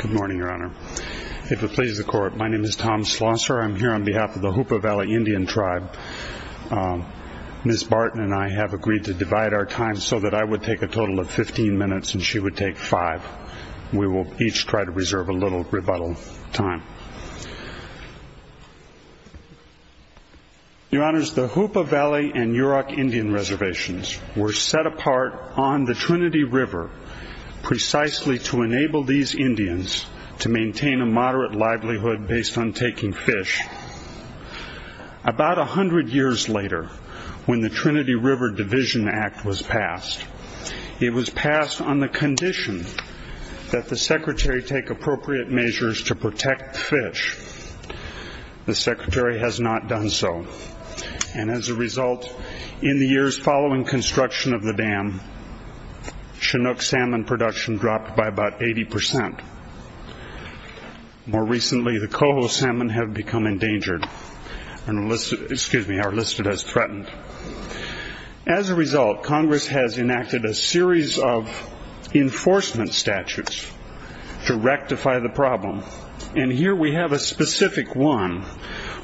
Good morning, Your Honor. If it pleases the Court, my name is Tom Schlosser. I'm here on behalf of the Hoopa Valley Indian Tribe. Ms. Barton and I have agreed to divide our time so that I would take a total of 15 minutes and she would take five. We will each try to reserve a little rebuttal time. Your Honors, the Hoopa Valley and Yurok Indian Reservations were set apart on the Trinity River precisely to enable these Indians to maintain a moderate livelihood based on taking fish. About a hundred years later, when the Trinity River Division Act was passed, it was passed on the condition that the Secretary take appropriate measures to protect fish. The Secretary has not done so, and as a result, in the years following construction of the dam, Chinook salmon production dropped by about 80 percent. More recently, the coho salmon have become endangered and are listed as threatened. As a result, Congress has enacted a series of enforcement statutes to rectify the problem, and here we have a specific one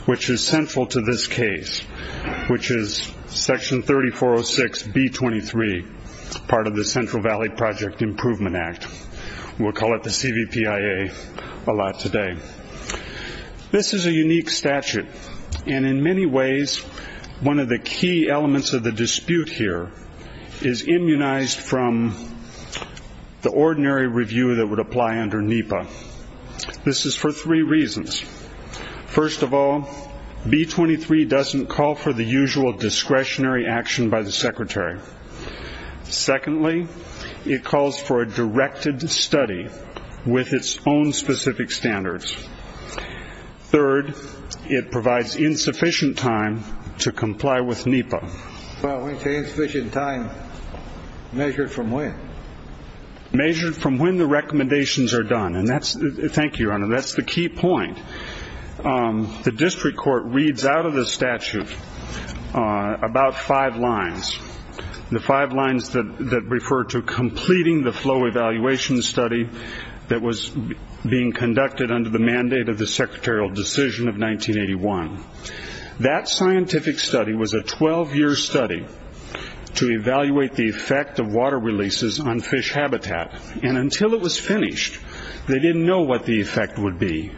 which is central to this case, which is Section 3406B23, part of the Central Valley Project Improvement Act. We'll call it the CVPIA a lot today. This is a unique statute, and in many ways, one of the key elements of the dispute here is immunized from the ordinary review that would apply under NEPA. This is for three reasons. First of all, B23 doesn't call for the usual discretionary action by the Secretary. Secondly, it calls for a directed study with its own specific standards. Third, it provides insufficient time to comply with NEPA. Insufficient time measured from when? Measured from when the recommendations are done, and thank you, Your Honor, that's the key point. The district court reads out of the statute about five lines. The five lines that refer to completing the flow evaluation study that was being conducted under the mandate of the secretarial decision of 1981. That scientific study was a 12-year study to evaluate the effect of water releases on fish habitat, and until it was finished, they didn't know what the effect would be.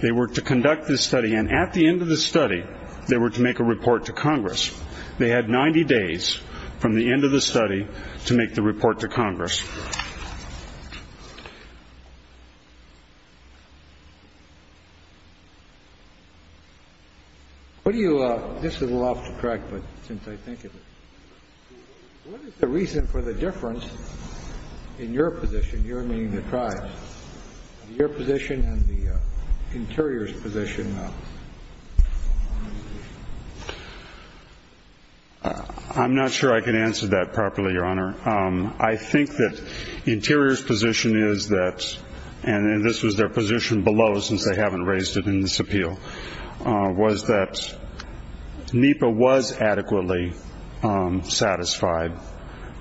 They were to conduct this study, and at the end of the study, they were to make a report to Congress. They had 90 days from the end of the study to make the report to Congress. This is a little off track, but since I think of it, what is the reason for the difference in your position, your meaning the tribe, your position and the interior's position? I'm not sure I can answer that properly, Your Honor. I think that interior's position is that, and this was their position below since they haven't raised it in this appeal, was that NEPA was adequately satisfied,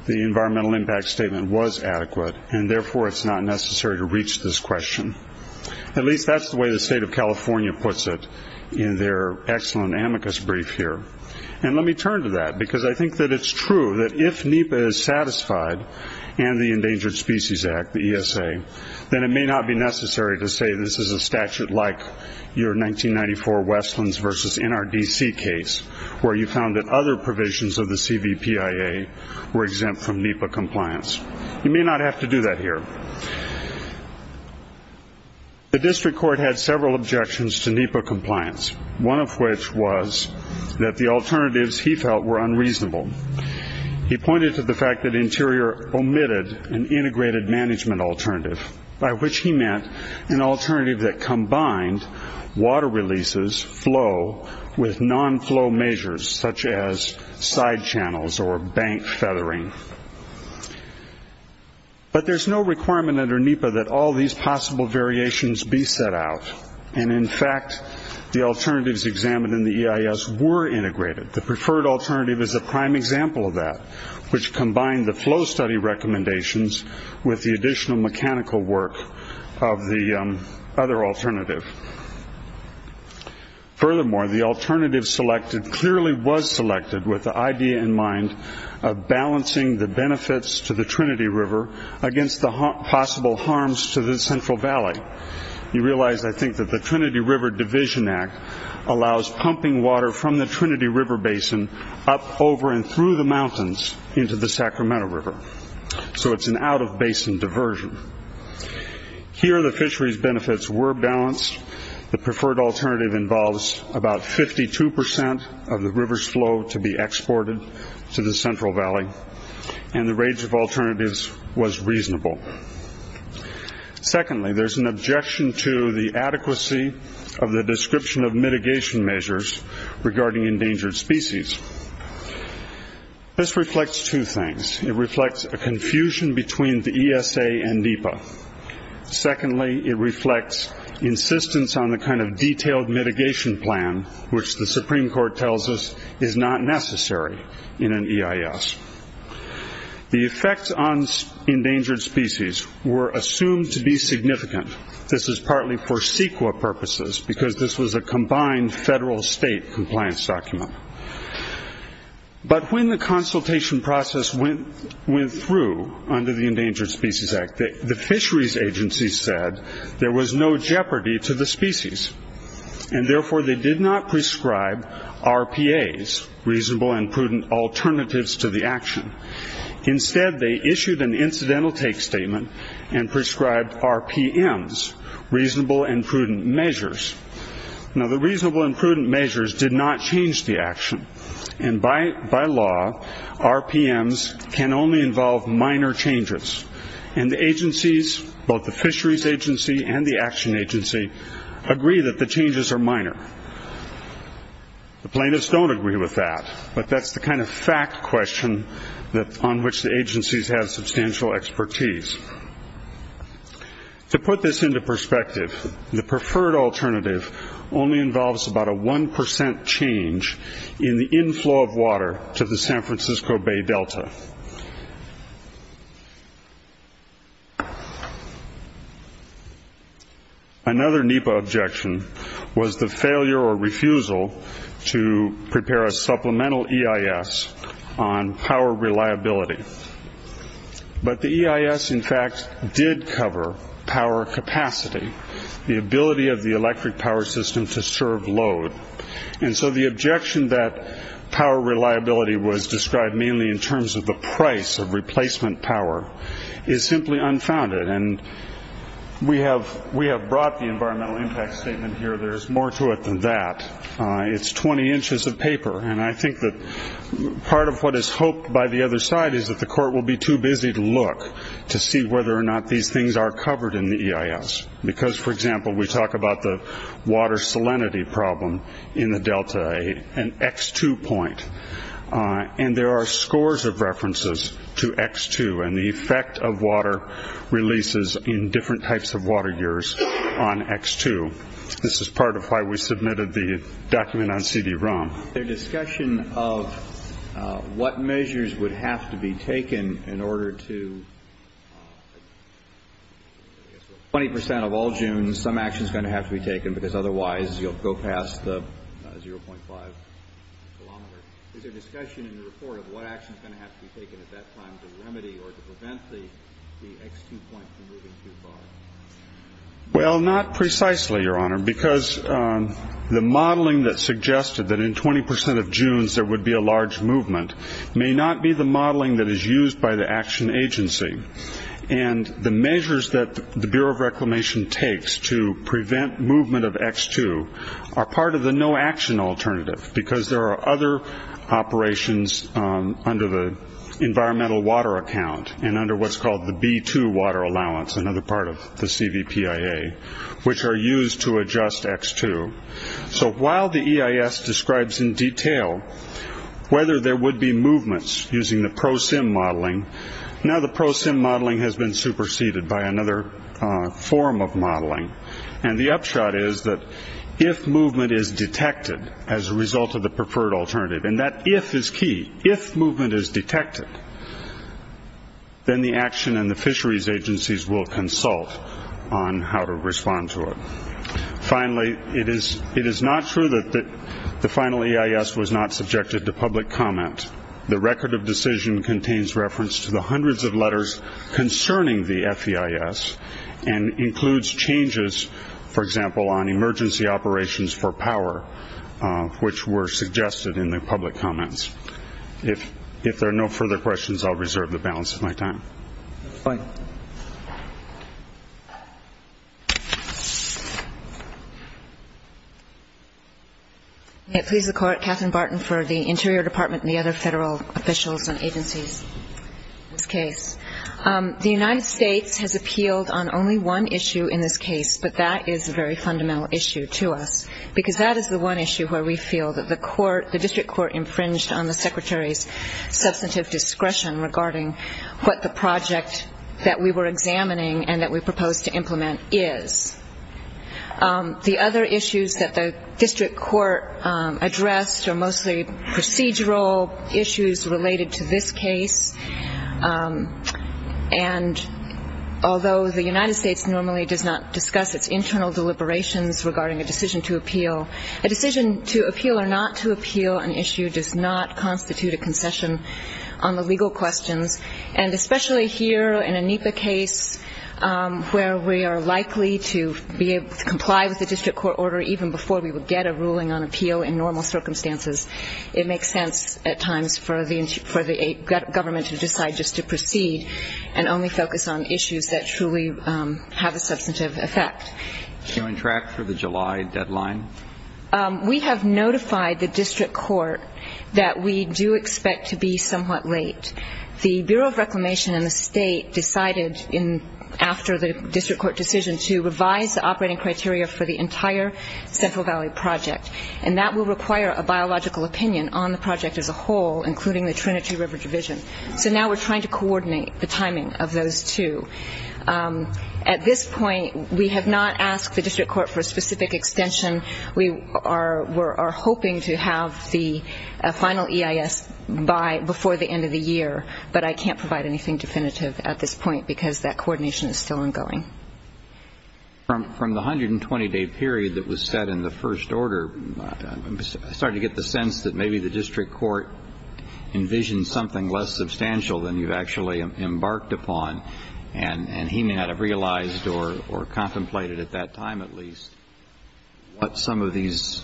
the environmental impact statement was adequate, and therefore it's not necessary to reach this question. At least that's the way the state of California puts it in their excellent amicus brief here. And let me turn to that, because I think that it's true that if NEPA is satisfied and the Endangered Species Act, the ESA, then it may not be necessary to say this is a statute like your 1994 Westlands v. NRDC case, where you found that other provisions of the CVPIA were exempt from NEPA compliance. You may not have to do that here. The district court had several objections to NEPA compliance, one of which was that the alternatives he felt were unreasonable. He pointed to the fact that interior omitted an integrated management alternative, by which he meant an alternative that combined water releases, flow, with non-flow measures, such as side channels or bank feathering. But there's no requirement under NEPA that all these possible variations be set out, and in fact the alternatives examined in the EIS were integrated. The preferred alternative is a prime example of that, which combined the flow study recommendations with the additional mechanical work of the other alternative. Furthermore, the alternative selected clearly was selected with the idea in mind of balancing the benefits to the Trinity River against the possible harms to the Central Valley. You realize, I think, that the Trinity River Division Act allows pumping water from the Trinity River basin up over and through the mountains into the Sacramento River. So it's an out-of-basin diversion. Here the fisheries benefits were balanced. The preferred alternative involves about 52% of the river's flow to be exported to the Central Valley, and the range of alternatives was reasonable. Secondly, there's an objection to the adequacy of the description of mitigation measures regarding endangered species. This reflects two things. It reflects a confusion between the ESA and NEPA. Secondly, it reflects insistence on the kind of detailed mitigation plan, which the Supreme Court tells us is not necessary in an EIS. The effects on endangered species were assumed to be significant. This is partly for CEQA purposes, because this was a combined federal-state compliance document. But when the consultation process went through under the Endangered Species Act, the fisheries agency said there was no jeopardy to the species, and therefore they did not prescribe RPAs, reasonable and prudent alternatives, to the action. Instead, they issued an incidental take statement and prescribed RPMs, reasonable and prudent measures. Now, the reasonable and prudent measures did not change the action, and by law, RPMs can only involve minor changes. And the agencies, both the fisheries agency and the action agency, agree that the changes are minor. The plaintiffs don't agree with that, but that's the kind of fact question on which the agencies have substantial expertise. To put this into perspective, the preferred alternative only involves about a 1% change in the inflow of water to the San Francisco Bay Delta. Another NEPA objection was the failure or refusal to prepare a supplemental EIS on power reliability. But the EIS, in fact, did cover power capacity, the ability of the electric power system to serve load. And so the objection that power reliability was described mainly in terms of the price of replacement power is simply unfounded. And we have brought the environmental impact statement here. There's more to it than that. It's 20 inches of paper, and I think that part of what is hoped by the other side is that the court will be too busy to look to see whether or not these things are covered in the EIS. Because, for example, we talk about the water salinity problem in the Delta and X2 point, and there are scores of references to X2 and the effect of water releases in different types of water years on X2. This is part of why we submitted the document on CD-ROM. Is there discussion of what measures would have to be taken in order to – 20 percent of all dunes, some action is going to have to be taken because otherwise you'll go past the 0.5 kilometer. Is there discussion in the report of what action is going to have to be taken at that time to remedy or to prevent the X2 point from moving too far? Well, not precisely, Your Honor, because the modeling that suggested that in 20 percent of dunes there would be a large movement may not be the modeling that is used by the action agency. And the measures that the Bureau of Reclamation takes to prevent movement of X2 are part of the no-action alternative because there are other operations under the environmental water account and under what's called the B2 water allowance, another part of the CVPIA, which are used to adjust X2. So while the EIS describes in detail whether there would be movements using the ProSim modeling, now the ProSim modeling has been superseded by another form of modeling. And the upshot is that if movement is detected as a result of the preferred alternative, and that if is key, if movement is detected, then the action and the fisheries agencies will consult on how to respond to it. Finally, it is not true that the final EIS was not subjected to public comment. The record of decision contains reference to the hundreds of letters concerning the FEIS and includes changes, for example, on emergency operations for power, which were suggested in the public comments. If there are no further questions, I'll reserve the balance of my time. Thank you. May it please the Court, Katherine Barton for the Interior Department and the other federal officials and agencies. In this case, the United States has appealed on only one issue in this case, but that is a very fundamental issue to us because that is the one issue where we feel that the District Court infringed on the Secretary's substantive discretion regarding what the project that we were examining and that we proposed to implement is. The other issues that the District Court addressed are mostly procedural issues related to this case, and although the United States normally does not discuss its internal deliberations regarding a decision to appeal, a decision to appeal or not to appeal an issue does not constitute a concession on the legal questions, and especially here in a NEPA case where we are likely to be able to comply with the District Court order even before we would get a ruling on appeal in normal circumstances, it makes sense at times for the government to decide just to proceed and only focus on issues that truly have a substantive effect. Are you on track for the July deadline? We have notified the District Court that we do expect to be somewhat late. The Bureau of Reclamation and the State decided after the District Court decision to revise the operating criteria for the entire Central Valley project, and that will require a biological opinion on the project as a whole, including the Trinity River Division. So now we're trying to coordinate the timing of those two. At this point, we have not asked the District Court for a specific extension. We are hoping to have the final EIS by before the end of the year, but I can't provide anything definitive at this point because that coordination is still ongoing. From the 120-day period that was set in the first order, I'm starting to get the sense that maybe the District Court envisioned something less substantial than you've actually embarked upon, and he may not have realized or contemplated at that time at least. What some of these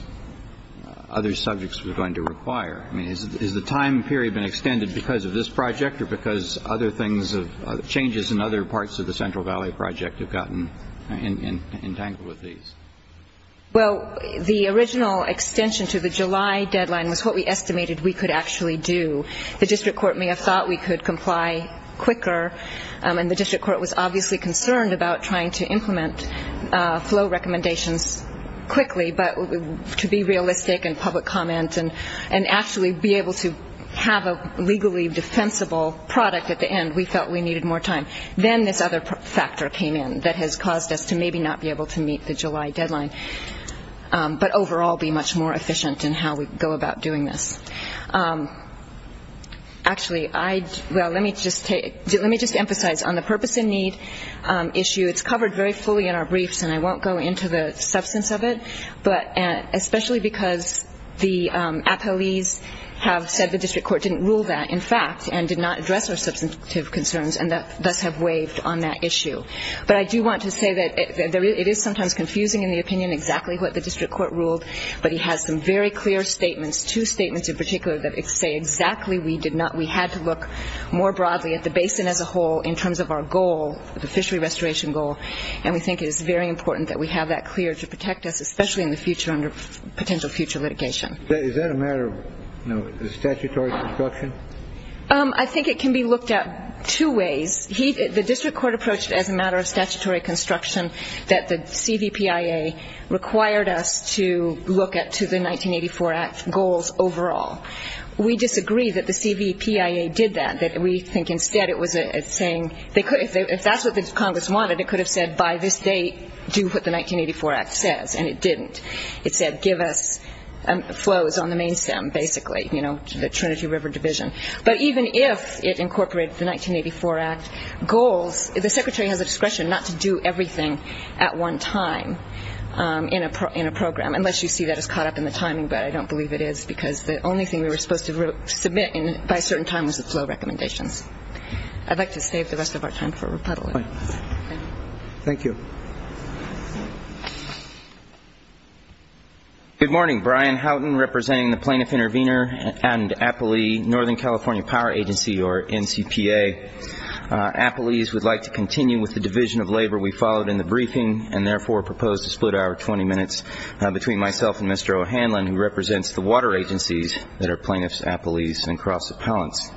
other subjects were going to require. I mean, has the time period been extended because of this project or because other things, changes in other parts of the Central Valley project have gotten entangled with these? Well, the original extension to the July deadline was what we estimated we could actually do. The District Court may have thought we could comply quicker, and the District Court was obviously concerned about trying to implement flow recommendations quickly, but to be realistic and public comment and actually be able to have a legally defensible product at the end, we felt we needed more time. Then this other factor came in that has caused us to maybe not be able to meet the July deadline, but overall be much more efficient in how we go about doing this. Actually, let me just emphasize on the purpose and need issue, it's covered very fully in our briefs and I won't go into the substance of it, but especially because the appellees have said the District Court didn't rule that, in fact, and did not address our substantive concerns and thus have waived on that issue. But I do want to say that it is sometimes confusing in the opinion exactly what the District Court ruled, but he has some very clear statements, two statements in particular that say exactly we did not. We had to look more broadly at the basin as a whole in terms of our goal, the fishery restoration goal, and we think it is very important that we have that clear to protect us, especially in the future under potential future litigation. Is that a matter of statutory construction? I think it can be looked at two ways. The District Court approached it as a matter of statutory construction that the CVPIA required us to look at to the 1984 Act goals overall. We disagree that the CVPIA did that. We think instead it was saying if that's what the Congress wanted, it could have said by this date do what the 1984 Act says, and it didn't. It said give us flows on the main stem basically, you know, the Trinity River Division. But even if it incorporated the 1984 Act goals, the Secretary has a discretion not to do everything at one time in a program, unless you see that as caught up in the timing, but I don't believe it is because the only thing we were supposed to submit by a certain time was the flow recommendations. I'd like to save the rest of our time for rebuttal. Thank you. Thank you. Good morning. Brian Houghton representing the Plaintiff Intervenor and Appalee Northern California Power Agency, or NCPA. Appalees would like to continue with the division of labor we followed in the briefing and therefore propose to split our 20 minutes between myself and Mr. O'Hanlon, who represents the water agencies that are plaintiffs, appalees, and cross-appellants.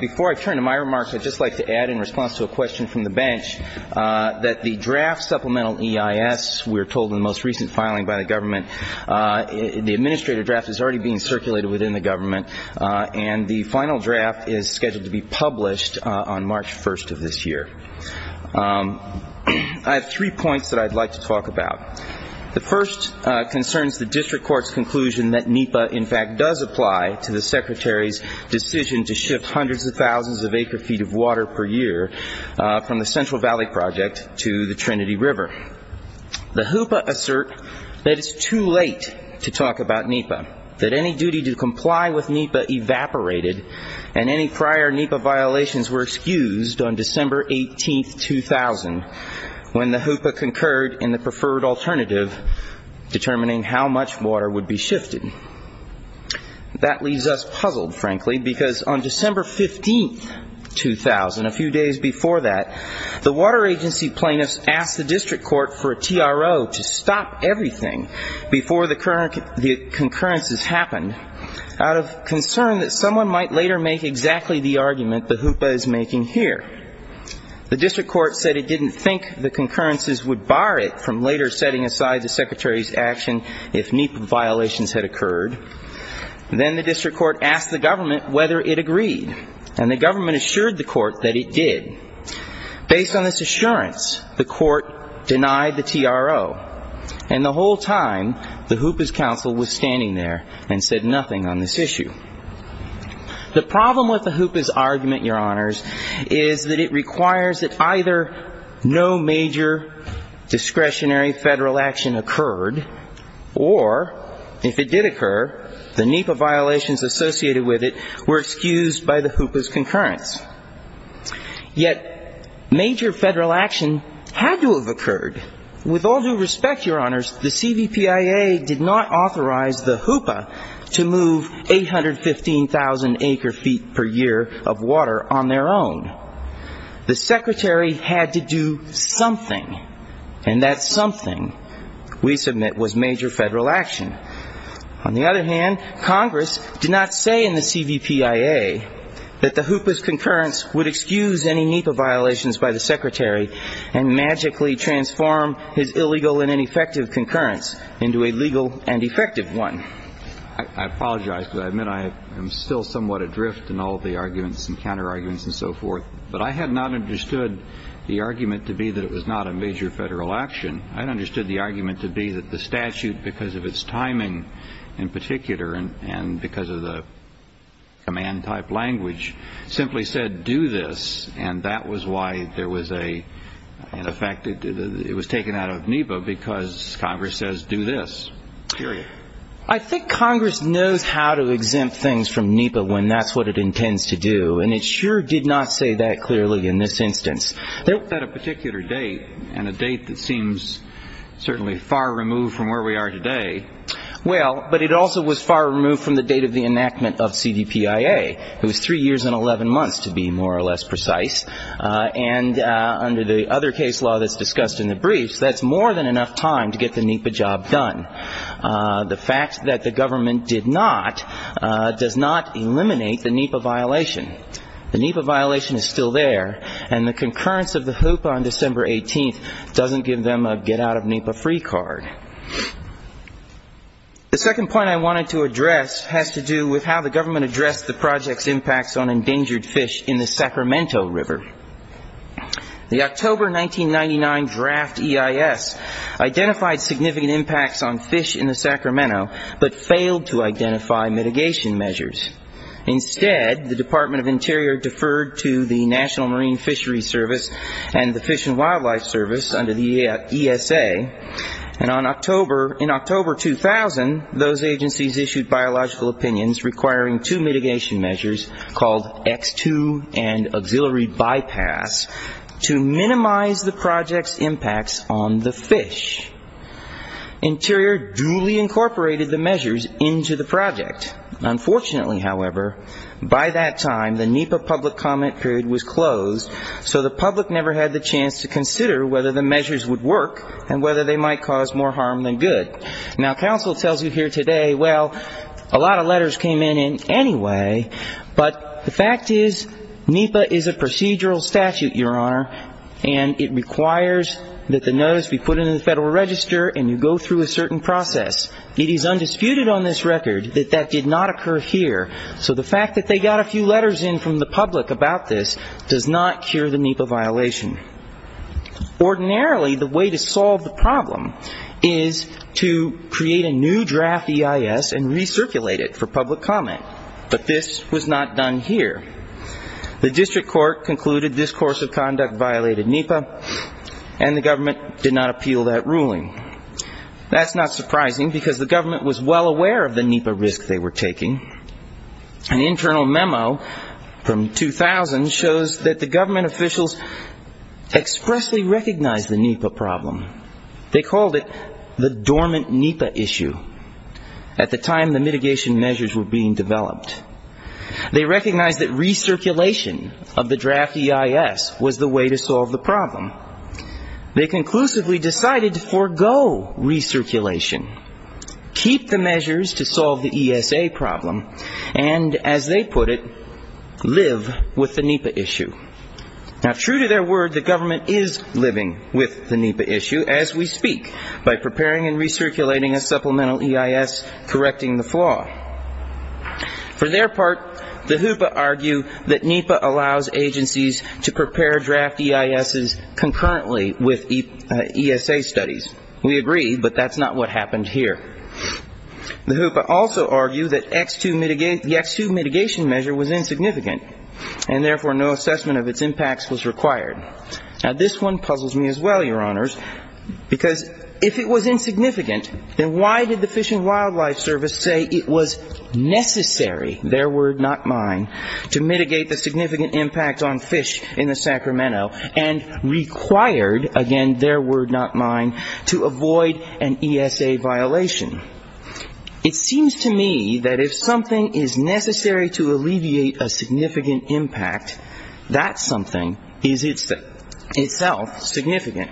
Before I turn to my remarks, I'd just like to add in response to a question from the bench that the draft supplemental EIS, we're told in the most recent filing by the government, the administrative draft is already being circulated within the government, and the final draft is scheduled to be published on March 1st of this year. I have three points that I'd like to talk about. The first concerns the district court's conclusion that NEPA, in fact, does apply to the Secretary's decision to shift hundreds of thousands of acre feet of water per year from the Central Valley Project to the Trinity River. The HOOPA assert that it's too late to talk about NEPA, that any duty to comply with NEPA evaporated, and any prior NEPA violations were excused on December 18th, 2000, when the HOOPA concurred in the preferred alternative determining how much water would be shifted. That leaves us puzzled, frankly, because on December 15th, 2000, a few days before that, the water agency plaintiffs asked the district court for a TRO to stop everything before the concurrences happened, out of concern that someone might later make exactly the argument the HOOPA is making here. The district court said it didn't think the concurrences would bar it from later setting aside the Secretary's action if NEPA violations had occurred. Then the district court asked the government whether it agreed, and the government assured the court that it did. Based on this assurance, the court denied the TRO, and the whole time the HOOPA's counsel was standing there and said nothing on this issue. The problem with the HOOPA's argument, Your Honors, is that it requires that either no major discretionary federal action occurred, or if it did occur, the NEPA violations associated with it were excused by the HOOPA's concurrence. Yet, major federal action had to have occurred. With all due respect, Your Honors, the CVPIA did not authorize the HOOPA to move 815,000 acre feet per year of water on their own. The Secretary had to do something, and that something, we submit, was major federal action. On the other hand, Congress did not say in the CVPIA that the HOOPA's concurrence would excuse any NEPA violations by the Secretary and magically transform his illegal and ineffective concurrence into a legal and effective one. I apologize, but I admit I am still somewhat adrift in all the arguments and counterarguments and so forth. But I had not understood the argument to be that it was not a major federal action. I understood the argument to be that the statute, because of its timing in particular and because of the command-type language, simply said do this, and that was why it was taken out of NEPA, because Congress says do this, period. I think Congress knows how to exempt things from NEPA when that's what it intends to do, and it sure did not say that clearly in this instance. It set a particular date, and a date that seems certainly far removed from where we are today. Well, but it also was far removed from the date of the enactment of CVPIA. It was three years and 11 months, to be more or less precise, and under the other case law that's discussed in the briefs, that's more than enough time to get the NEPA job done. The fact that the government did not does not eliminate the NEPA violation. The NEPA violation is still there, and the concurrence of the HOOPA on December 18th doesn't give them a get-out-of-NEPA-free card. The second point I wanted to address has to do with how the government addressed the project's impacts on endangered fish in the Sacramento River. The October 1999 draft EIS identified significant impacts on fish in the Sacramento, but failed to identify mitigation measures. Instead, the Department of Interior deferred to the National Marine Fisheries Service and the Fish and Wildlife Service under the ESA, and in October 2000, those agencies issued biological opinions requiring two mitigation measures called X2 and auxiliary bypass to minimize the project's impacts on the fish. Interior duly incorporated the measures into the project. Unfortunately, however, by that time, the NEPA public comment period was closed, so the public never had the chance to consider whether the measures would work and whether they might cause more harm than good. Now, counsel tells you here today, well, a lot of letters came in anyway, but the fact is NEPA is a procedural statute, Your Honor, and it requires that the notice be put into the Federal Register and you go through a certain process. It is undisputed on this record that that did not occur here, so the fact that they got a few letters in from the public about this does not cure the NEPA violation. Ordinarily, the way to solve the problem is to create a new draft EIS and recirculate it for public comment, but this was not done here. The district court concluded this course of conduct violated NEPA, and the government did not appeal that ruling. That's not surprising, because the government was well aware of the NEPA risk they were taking. An internal memo from 2000 shows that the government officials expressly recognized the NEPA problem. They called it the dormant NEPA issue at the time the mitigation measures were being developed. They recognized that recirculation of the draft EIS was the way to solve the problem. They conclusively decided to forego recirculation, keep the measures to solve the ESA problem, and, as they put it, live with the NEPA issue. Now, true to their word, the government is living with the NEPA issue as we speak, by preparing and recirculating a supplemental EIS, correcting the flaw. For their part, the HOOPA argue that NEPA allows agencies to prepare draft EISs concurrently with ESA studies. We agree, but that's not what happened here. The HOOPA also argue that the X2 mitigation measure was insignificant, and therefore no assessment of its impacts was required. Now, this one puzzles me as well, Your Honors, because if it was insignificant, then why did the Fish and Wildlife Service say it was necessary, their word, not mine, to mitigate the significant impact on fish in the Sacramento, and required, again, their word, not mine, to avoid an ESA violation? It seems to me that if something is necessary to alleviate a significant impact, that something is itself significant.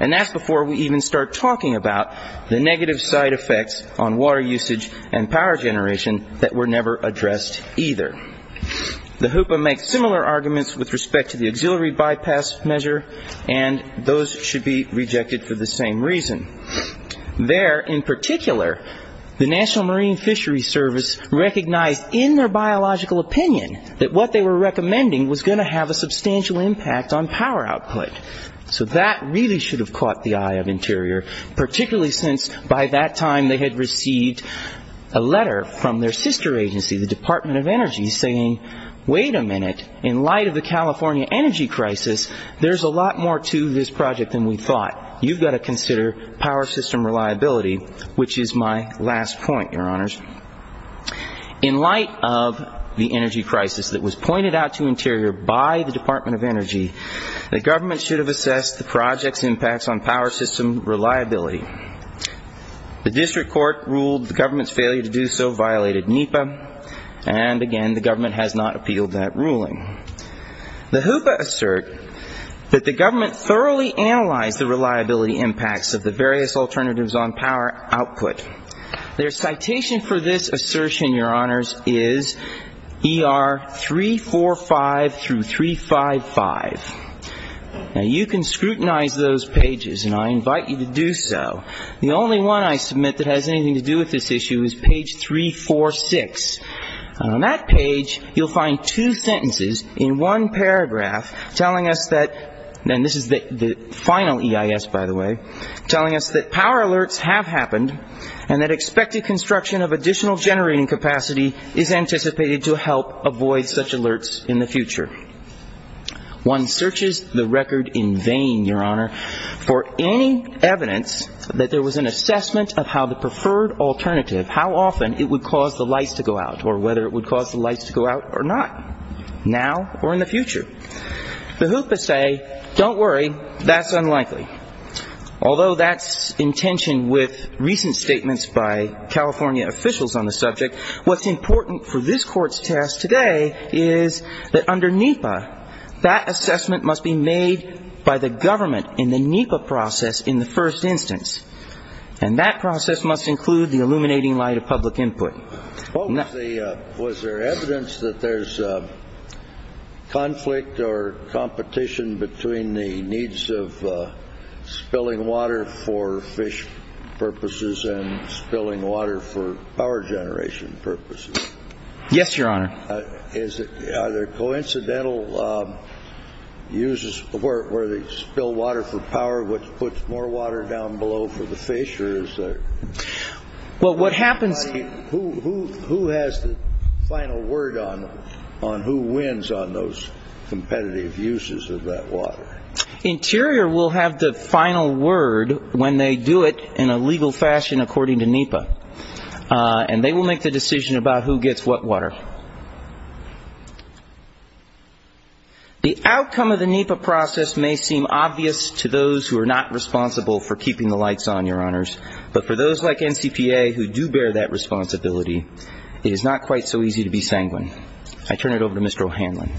And that's before we even start talking about the negative side effects on water usage and power generation that were never addressed either. The HOOPA makes similar arguments with respect to the auxiliary bypass measure, and those should be rejected for the same reason. There, in particular, the National Marine Fishery Service recognized in their biological opinion that what they were recommending was going to have a substantial impact on power output. So that really should have caught the eye of Interior, particularly since by that time they had received a letter from their sister agency, the Department of Energy, saying, wait a minute, in light of the California energy crisis, there's a lot more to this project than we thought. You've got to consider power system reliability, which is my last point, Your Honors. In light of the energy crisis that was pointed out to Interior by the Department of Energy, the government should have assessed the project's impacts on power system reliability. The district court ruled the government's failure to do so violated NEPA, and again, the government has not appealed that ruling. The HOOPA assert that the government thoroughly analyzed the reliability impacts of the various alternatives on power output. Their citation for this assertion, Your Honors, is ER 345 through 355. Now, you can scrutinize those pages, and I invite you to do so. The only one I submit that has anything to do with this issue is page 346. On that page, you'll find two sentences in one paragraph telling us that, and this is the final EIS, by the way, telling us that power alerts have happened and that expected construction of additional generating capacity is anticipated to help avoid such alerts in the future. One searches the record in vain, Your Honor, for any evidence that there was an assessment of how the preferred alternative, how often it would cause the lights to go out or whether it would cause the lights to go out or not, now or in the future. The HOOPA say, don't worry, that's unlikely. Although that's in tension with recent statements by California officials on the subject, what's important for this Court's test today is that under NEPA, that assessment must be made by the government in the NEPA process in the first instance, and that process must include the illuminating light of public input. Was there evidence that there's conflict or competition between the needs of spilling water for fish purposes and spilling water for power generation purposes? Yes, Your Honor. Are there coincidental uses where they spill water for power, which puts more water down below for the fish, or is there? Well, what happens... Who has the final word on who wins on those competitive uses of that water? Interior will have the final word when they do it in a legal fashion according to NEPA, and they will make the decision about who gets what water. The outcome of the NEPA process may seem obvious to those who are not responsible for keeping the lights on, Your Honors, but for those like NCPA who do bear that responsibility, it is not quite so easy to be sanguine. I turn it over to Mr. O'Hanlon.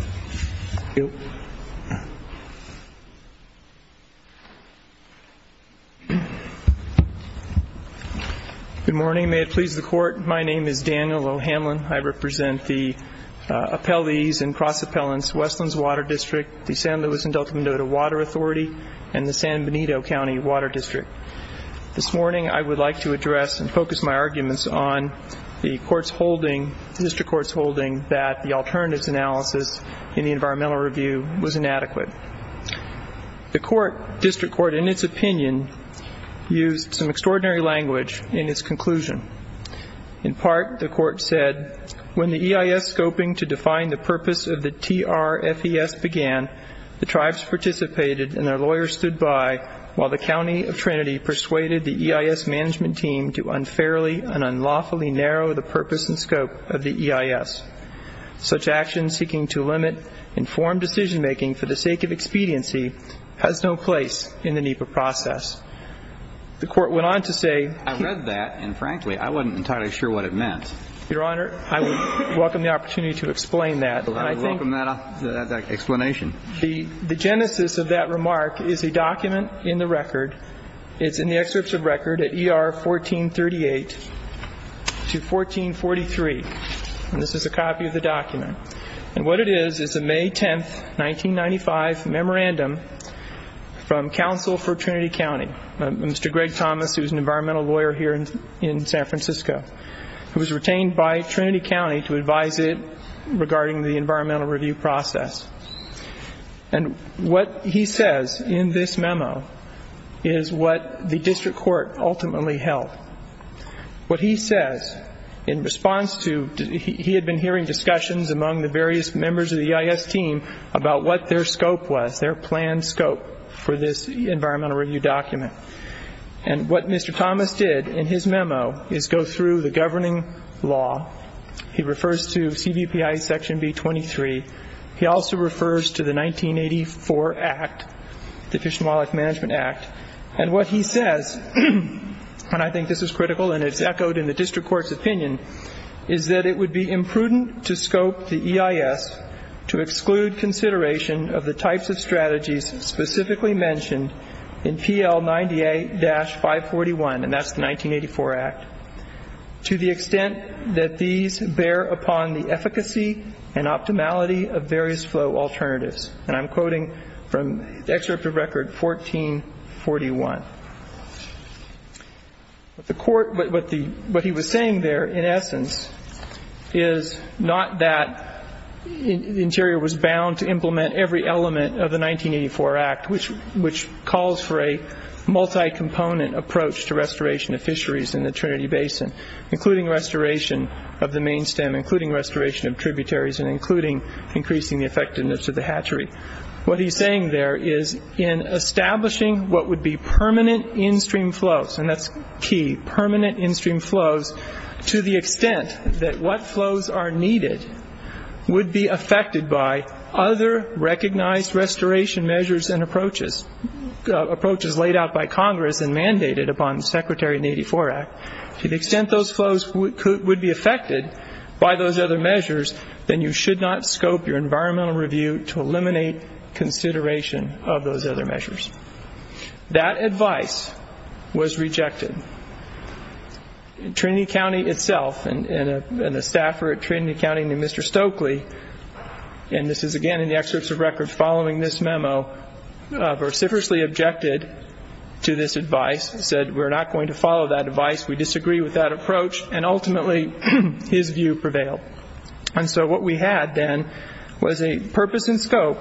Good morning. May it please the Court, my name is Daniel O'Hanlon. I represent the appellees and cross-appellants, Westlands Water District, the San Luis and Delta Minota Water Authority, and the San Benito County Water District. This morning I would like to address and focus my arguments on the District Court's holding that the alternatives analysis in the environmental review was inadequate. The District Court, in its opinion, used some extraordinary language in its conclusion. In part, the Court said, when the EIS scoping to define the purpose of the TRFES began, the tribes participated and their lawyers stood by while the County of Trinity persuaded the EIS management team to unfairly and unlawfully narrow the purpose and scope of the EIS. Such action seeking to limit informed decision-making for the sake of expediency has no place in the NEPA process. The Court went on to say... I read that and, frankly, I wasn't entirely sure what it meant. Your Honor, I would welcome the opportunity to explain that. I would welcome that explanation. The genesis of that remark is a document in the record. It's in the excerpts of record at ER 1438 to 1443. And this is a copy of the document. And what it is is a May 10, 1995, memorandum from counsel for Trinity County, Mr. Greg Thomas, who is an environmental lawyer here in San Francisco, who was retained by Trinity County to advise it regarding the environmental review process. And what he says in this memo is what the District Court ultimately held. What he says in response to... He had been hearing discussions among the various members of the EIS team about what their scope was, their planned scope for this environmental review document. And what Mr. Thomas did in his memo is go through the governing law. He refers to CBPI Section B23. He also refers to the 1984 Act, the Fish and Wildlife Management Act. And what he says, and I think this is critical and it's echoed in the District Court's opinion, is that it would be imprudent to scope the EIS to exclude consideration of the types of strategies specifically mentioned in PL 98-541, and that's the 1984 Act, to the extent that these bear upon the efficacy and optimality of various flow alternatives. And I'm quoting from the excerpt of Record 1441. What he was saying there, in essence, is not that Interior was bound to implement every element of the 1984 Act, which calls for a multi-component approach to restoration of fisheries in the Trinity Basin, including restoration of the main stem, including restoration of tributaries, and including increasing the effectiveness of the hatchery. What he's saying there is in establishing what would be permanent in-stream flows, and that's key, permanent in-stream flows, to the extent that what flows are needed would be affected by other recognized restoration measures and approaches laid out by Congress and mandated upon the Secretary in the 1984 Act. To the extent those flows would be affected by those other measures, then you should not scope your environmental review to eliminate consideration of those other measures. That advice was rejected. Trinity County itself, and the staffer at Trinity County named Mr. Stokely, and this is again in the excerpts of Record following this memo, vociferously objected to this advice. He said, we're not going to follow that advice, we disagree with that approach, and ultimately his view prevailed. And so what we had then was a purpose and scope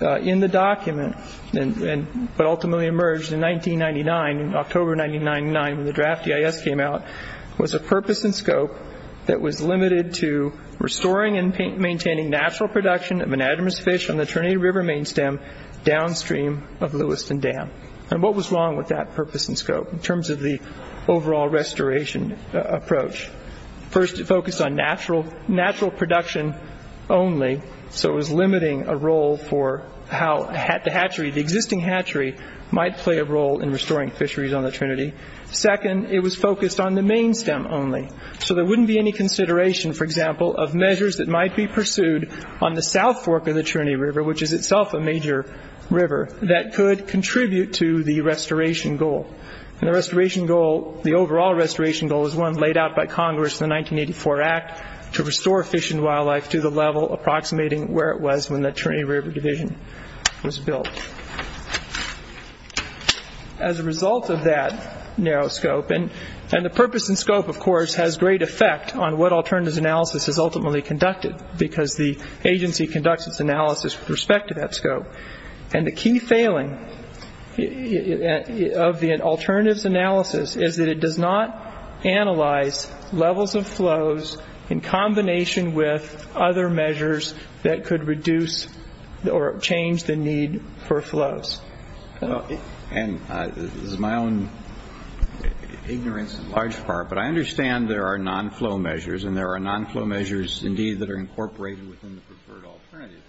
in the document, but ultimately emerged in 1999, in October 1999, when the draft EIS came out, was a purpose and scope that was limited to restoring and maintaining natural production of anadromous fish on the Trinity River main stem downstream of Lewiston Dam. And what was wrong with that purpose and scope in terms of the overall restoration approach? First, it focused on natural production only, so it was limiting a role for how the existing hatchery might play a role in restoring fisheries on the Trinity. Second, it was focused on the main stem only, so there wouldn't be any consideration, for example, of measures that might be pursued on the south fork of the Trinity River, which is itself a major river, that could contribute to the restoration goal. And the restoration goal, the overall restoration goal, is one laid out by Congress in the 1984 Act to restore fish and wildlife to the level approximating where it was when the Trinity River division was built. As a result of that narrow scope, and the purpose and scope, of course, this has great effect on what alternatives analysis has ultimately conducted, because the agency conducts its analysis with respect to that scope. And the key failing of the alternatives analysis is that it does not analyze levels of flows in combination with other measures that could reduce or change the need for flows. And this is my own ignorance in large part, but I understand there are non-flow measures, and there are non-flow measures indeed that are incorporated within the preferred alternative.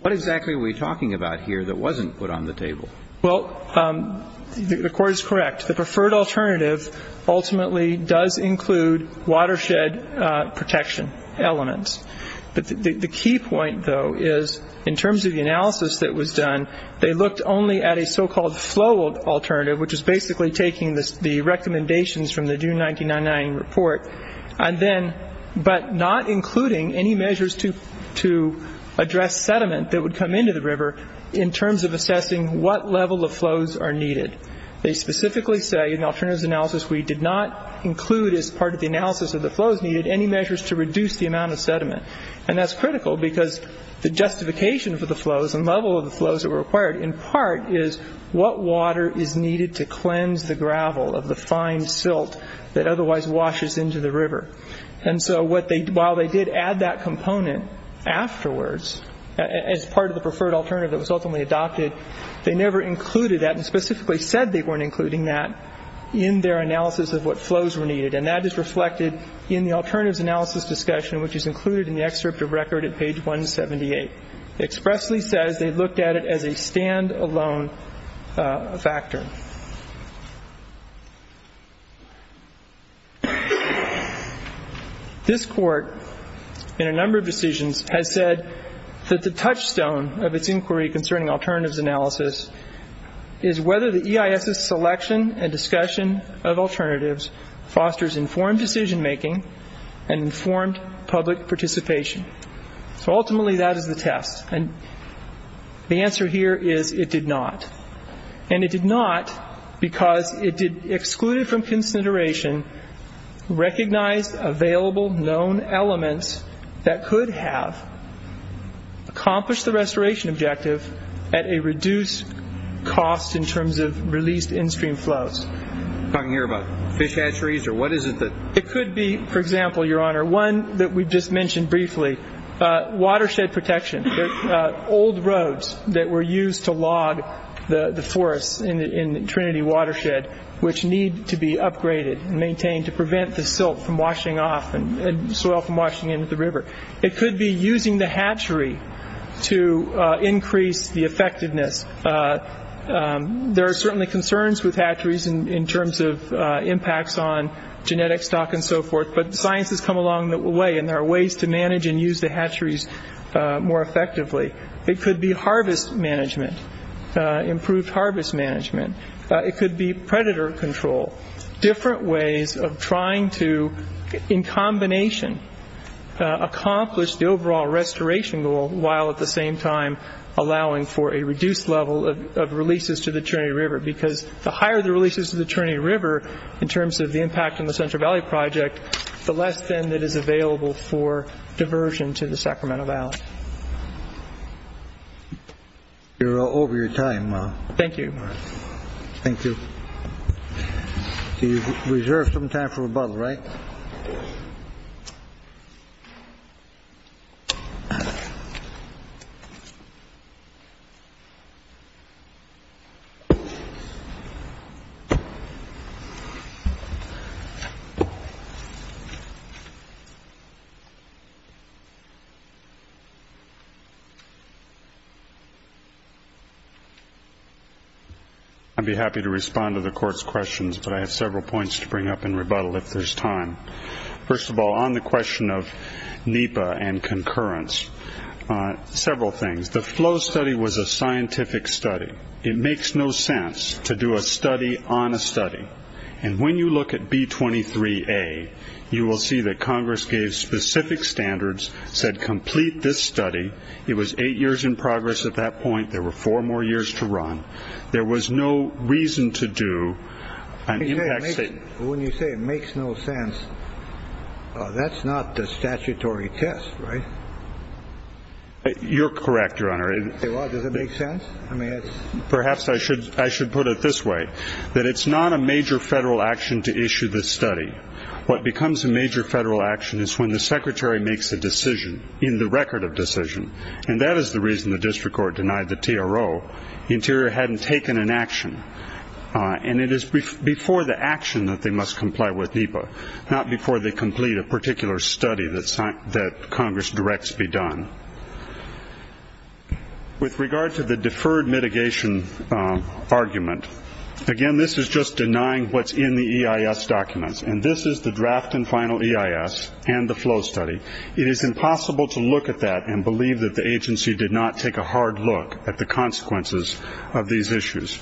What exactly are we talking about here that wasn't put on the table? Well, the Court is correct. The preferred alternative ultimately does include watershed protection elements. The key point, though, is in terms of the analysis that was done, they looked only at a so-called flow alternative, which is basically taking the recommendations from the June 1999 report, but not including any measures to address sediment that would come into the river in terms of assessing what level of flows are needed. They specifically say in the alternatives analysis we did not include as part of the analysis of the flows needed any measures to reduce the amount of sediment. And that's critical because the justification for the flows and level of the flows that were required in part is what water is needed to cleanse the gravel of the fine silt that otherwise washes into the river. And so while they did add that component afterwards as part of the preferred alternative that was ultimately adopted, they never included that and specifically said they weren't including that in their analysis of what flows were needed. And that is reflected in the alternatives analysis discussion, which is included in the excerpt of record at page 178. It expressly says they looked at it as a stand-alone factor. This Court, in a number of decisions, has said that the touchstone of its inquiry concerning alternatives analysis is whether the EIS's selection and discussion of alternatives fosters informed decision-making and informed public participation. So ultimately that is the test. And the answer here is it did not. And it did not because it excluded from consideration recognized available known elements that could have accomplished the restoration objective at a reduced cost in terms of released in-stream flows. Talking here about fish hatcheries or what is it that... It could be, for example, Your Honor, one that we just mentioned briefly, watershed protection. Old roads that were used to log the forests in Trinity Watershed, which need to be upgraded and maintained to prevent the silt from washing off and soil from washing into the river. It could be using the hatchery to increase the effectiveness. There are certainly concerns with hatcheries in terms of impacts on genetic stock and so forth, but science has come along the way and there are ways to manage and use the hatcheries more effectively. It could be harvest management, improved harvest management. It could be predator control. Different ways of trying to, in combination, accomplish the overall restoration goal while at the same time allowing for a reduced level of releases to the Trinity River because the higher the releases to the Trinity River in terms of the impact on the Central Valley Project, the less then that is available for diversion to the Sacramento Valley. You're all over your time. Thank you. Thank you. Do you reserve some time for rebuttal, right? Okay. I'd be happy to respond to the Court's questions, but I have several points to bring up in rebuttal if there's time. First of all, on the question of NEPA and concurrence, several things. The flow study was a scientific study. It makes no sense to do a study on a study, and when you look at B23A, you will see that Congress gave specific standards, said complete this study. It was eight years in progress at that point. There were four more years to run. There was no reason to do an impact study. When you say it makes no sense, that's not the statutory test, right? You're correct, Your Honor. Does it make sense? Perhaps I should put it this way, that it's not a major federal action to issue this study. What becomes a major federal action is when the Secretary makes a decision in the record of decision, and that is the reason the district court denied the TRO. The Interior hadn't taken an action, and it is before the action that they must comply with NEPA, not before they complete a particular study that Congress directs be done. With regard to the deferred mitigation argument, again, this is just denying what's in the EIS documents, and this is the draft and final EIS and the flow study. It is impossible to look at that and believe that the agency did not take a hard look at the consequences of these issues.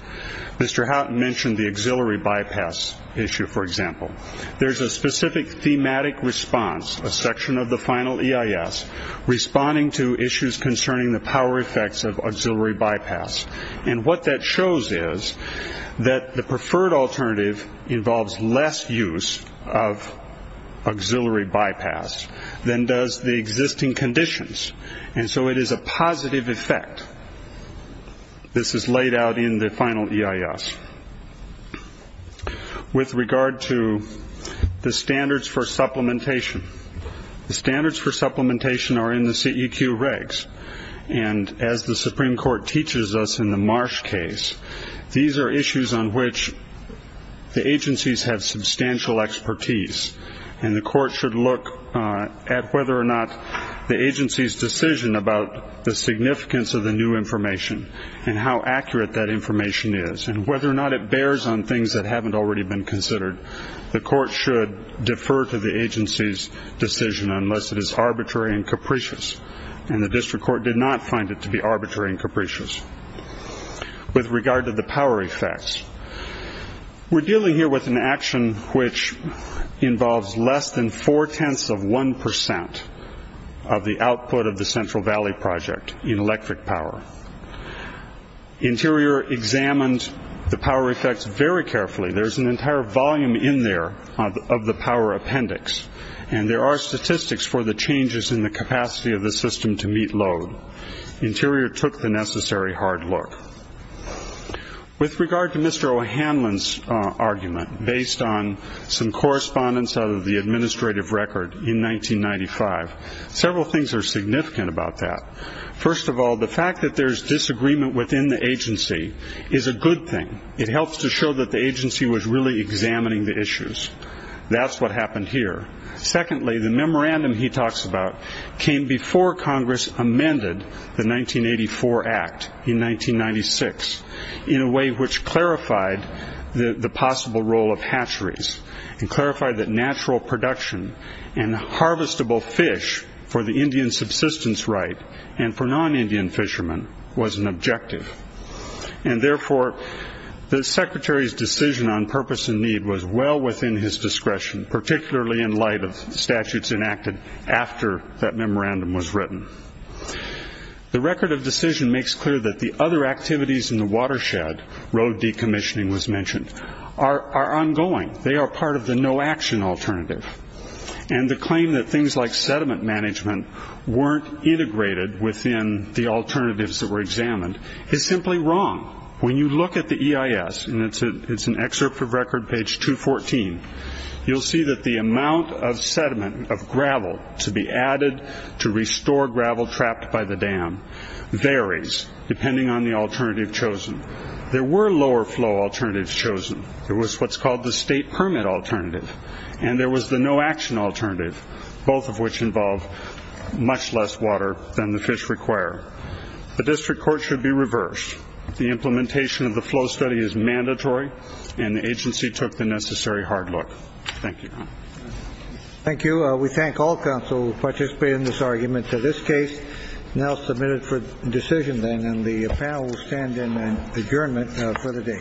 Mr. Houghton mentioned the auxiliary bypass issue, for example. There's a specific thematic response, a section of the final EIS, responding to issues concerning the power effects of auxiliary bypass, and what that shows is that the preferred alternative involves less use of auxiliary bypass, than does the existing conditions, and so it is a positive effect. This is laid out in the final EIS. With regard to the standards for supplementation, the standards for supplementation are in the CEQ regs, and as the Supreme Court teaches us in the Marsh case, these are issues on which the agencies have substantial expertise, and the court should look at whether or not the agency's decision about the significance of the new information and how accurate that information is, and whether or not it bears on things that haven't already been considered. The court should defer to the agency's decision unless it is arbitrary and capricious, and the district court did not find it to be arbitrary and capricious. With regard to the power effects, we're dealing here with an action which involves less than four-tenths of one percent of the output of the Central Valley Project in electric power. Interior examined the power effects very carefully. There's an entire volume in there of the power appendix, and there are statistics for the changes in the capacity of the system to meet load. Interior took the necessary hard look. With regard to Mr. O'Hanlon's argument, based on some correspondence out of the administrative record in 1995, several things are significant about that. First of all, the fact that there's disagreement within the agency is a good thing. It helps to show that the agency was really examining the issues. That's what happened here. Secondly, the memorandum he talks about came before Congress amended the 1984 Act in 1996 in a way which clarified the possible role of hatcheries and clarified that natural production and harvestable fish for the Indian subsistence right and for non-Indian fishermen was an objective. Therefore, the secretary's decision on purpose and need was well within his discretion, particularly in light of statutes enacted after that memorandum was written. The record of decision makes clear that the other activities in the watershed, road decommissioning was mentioned, are ongoing. They are part of the no-action alternative. And the claim that things like sediment management weren't integrated within the alternatives that were examined is simply wrong. When you look at the EIS, and it's an excerpt of record page 214, you'll see that the amount of sediment, of gravel, to be added to restore gravel trapped by the dam varies depending on the alternative chosen. There were lower flow alternatives chosen. There was what's called the state permit alternative, and there was the no-action alternative, both of which involve much less water than the fish require. The district court should be reversed. The implementation of the flow study is mandatory, and the agency took the necessary hard look. Thank you. Thank you. We thank all counsel who participated in this argument. Now submitted for decision, then, and the panel will stand in adjournment for the day. Thank you. Thank you.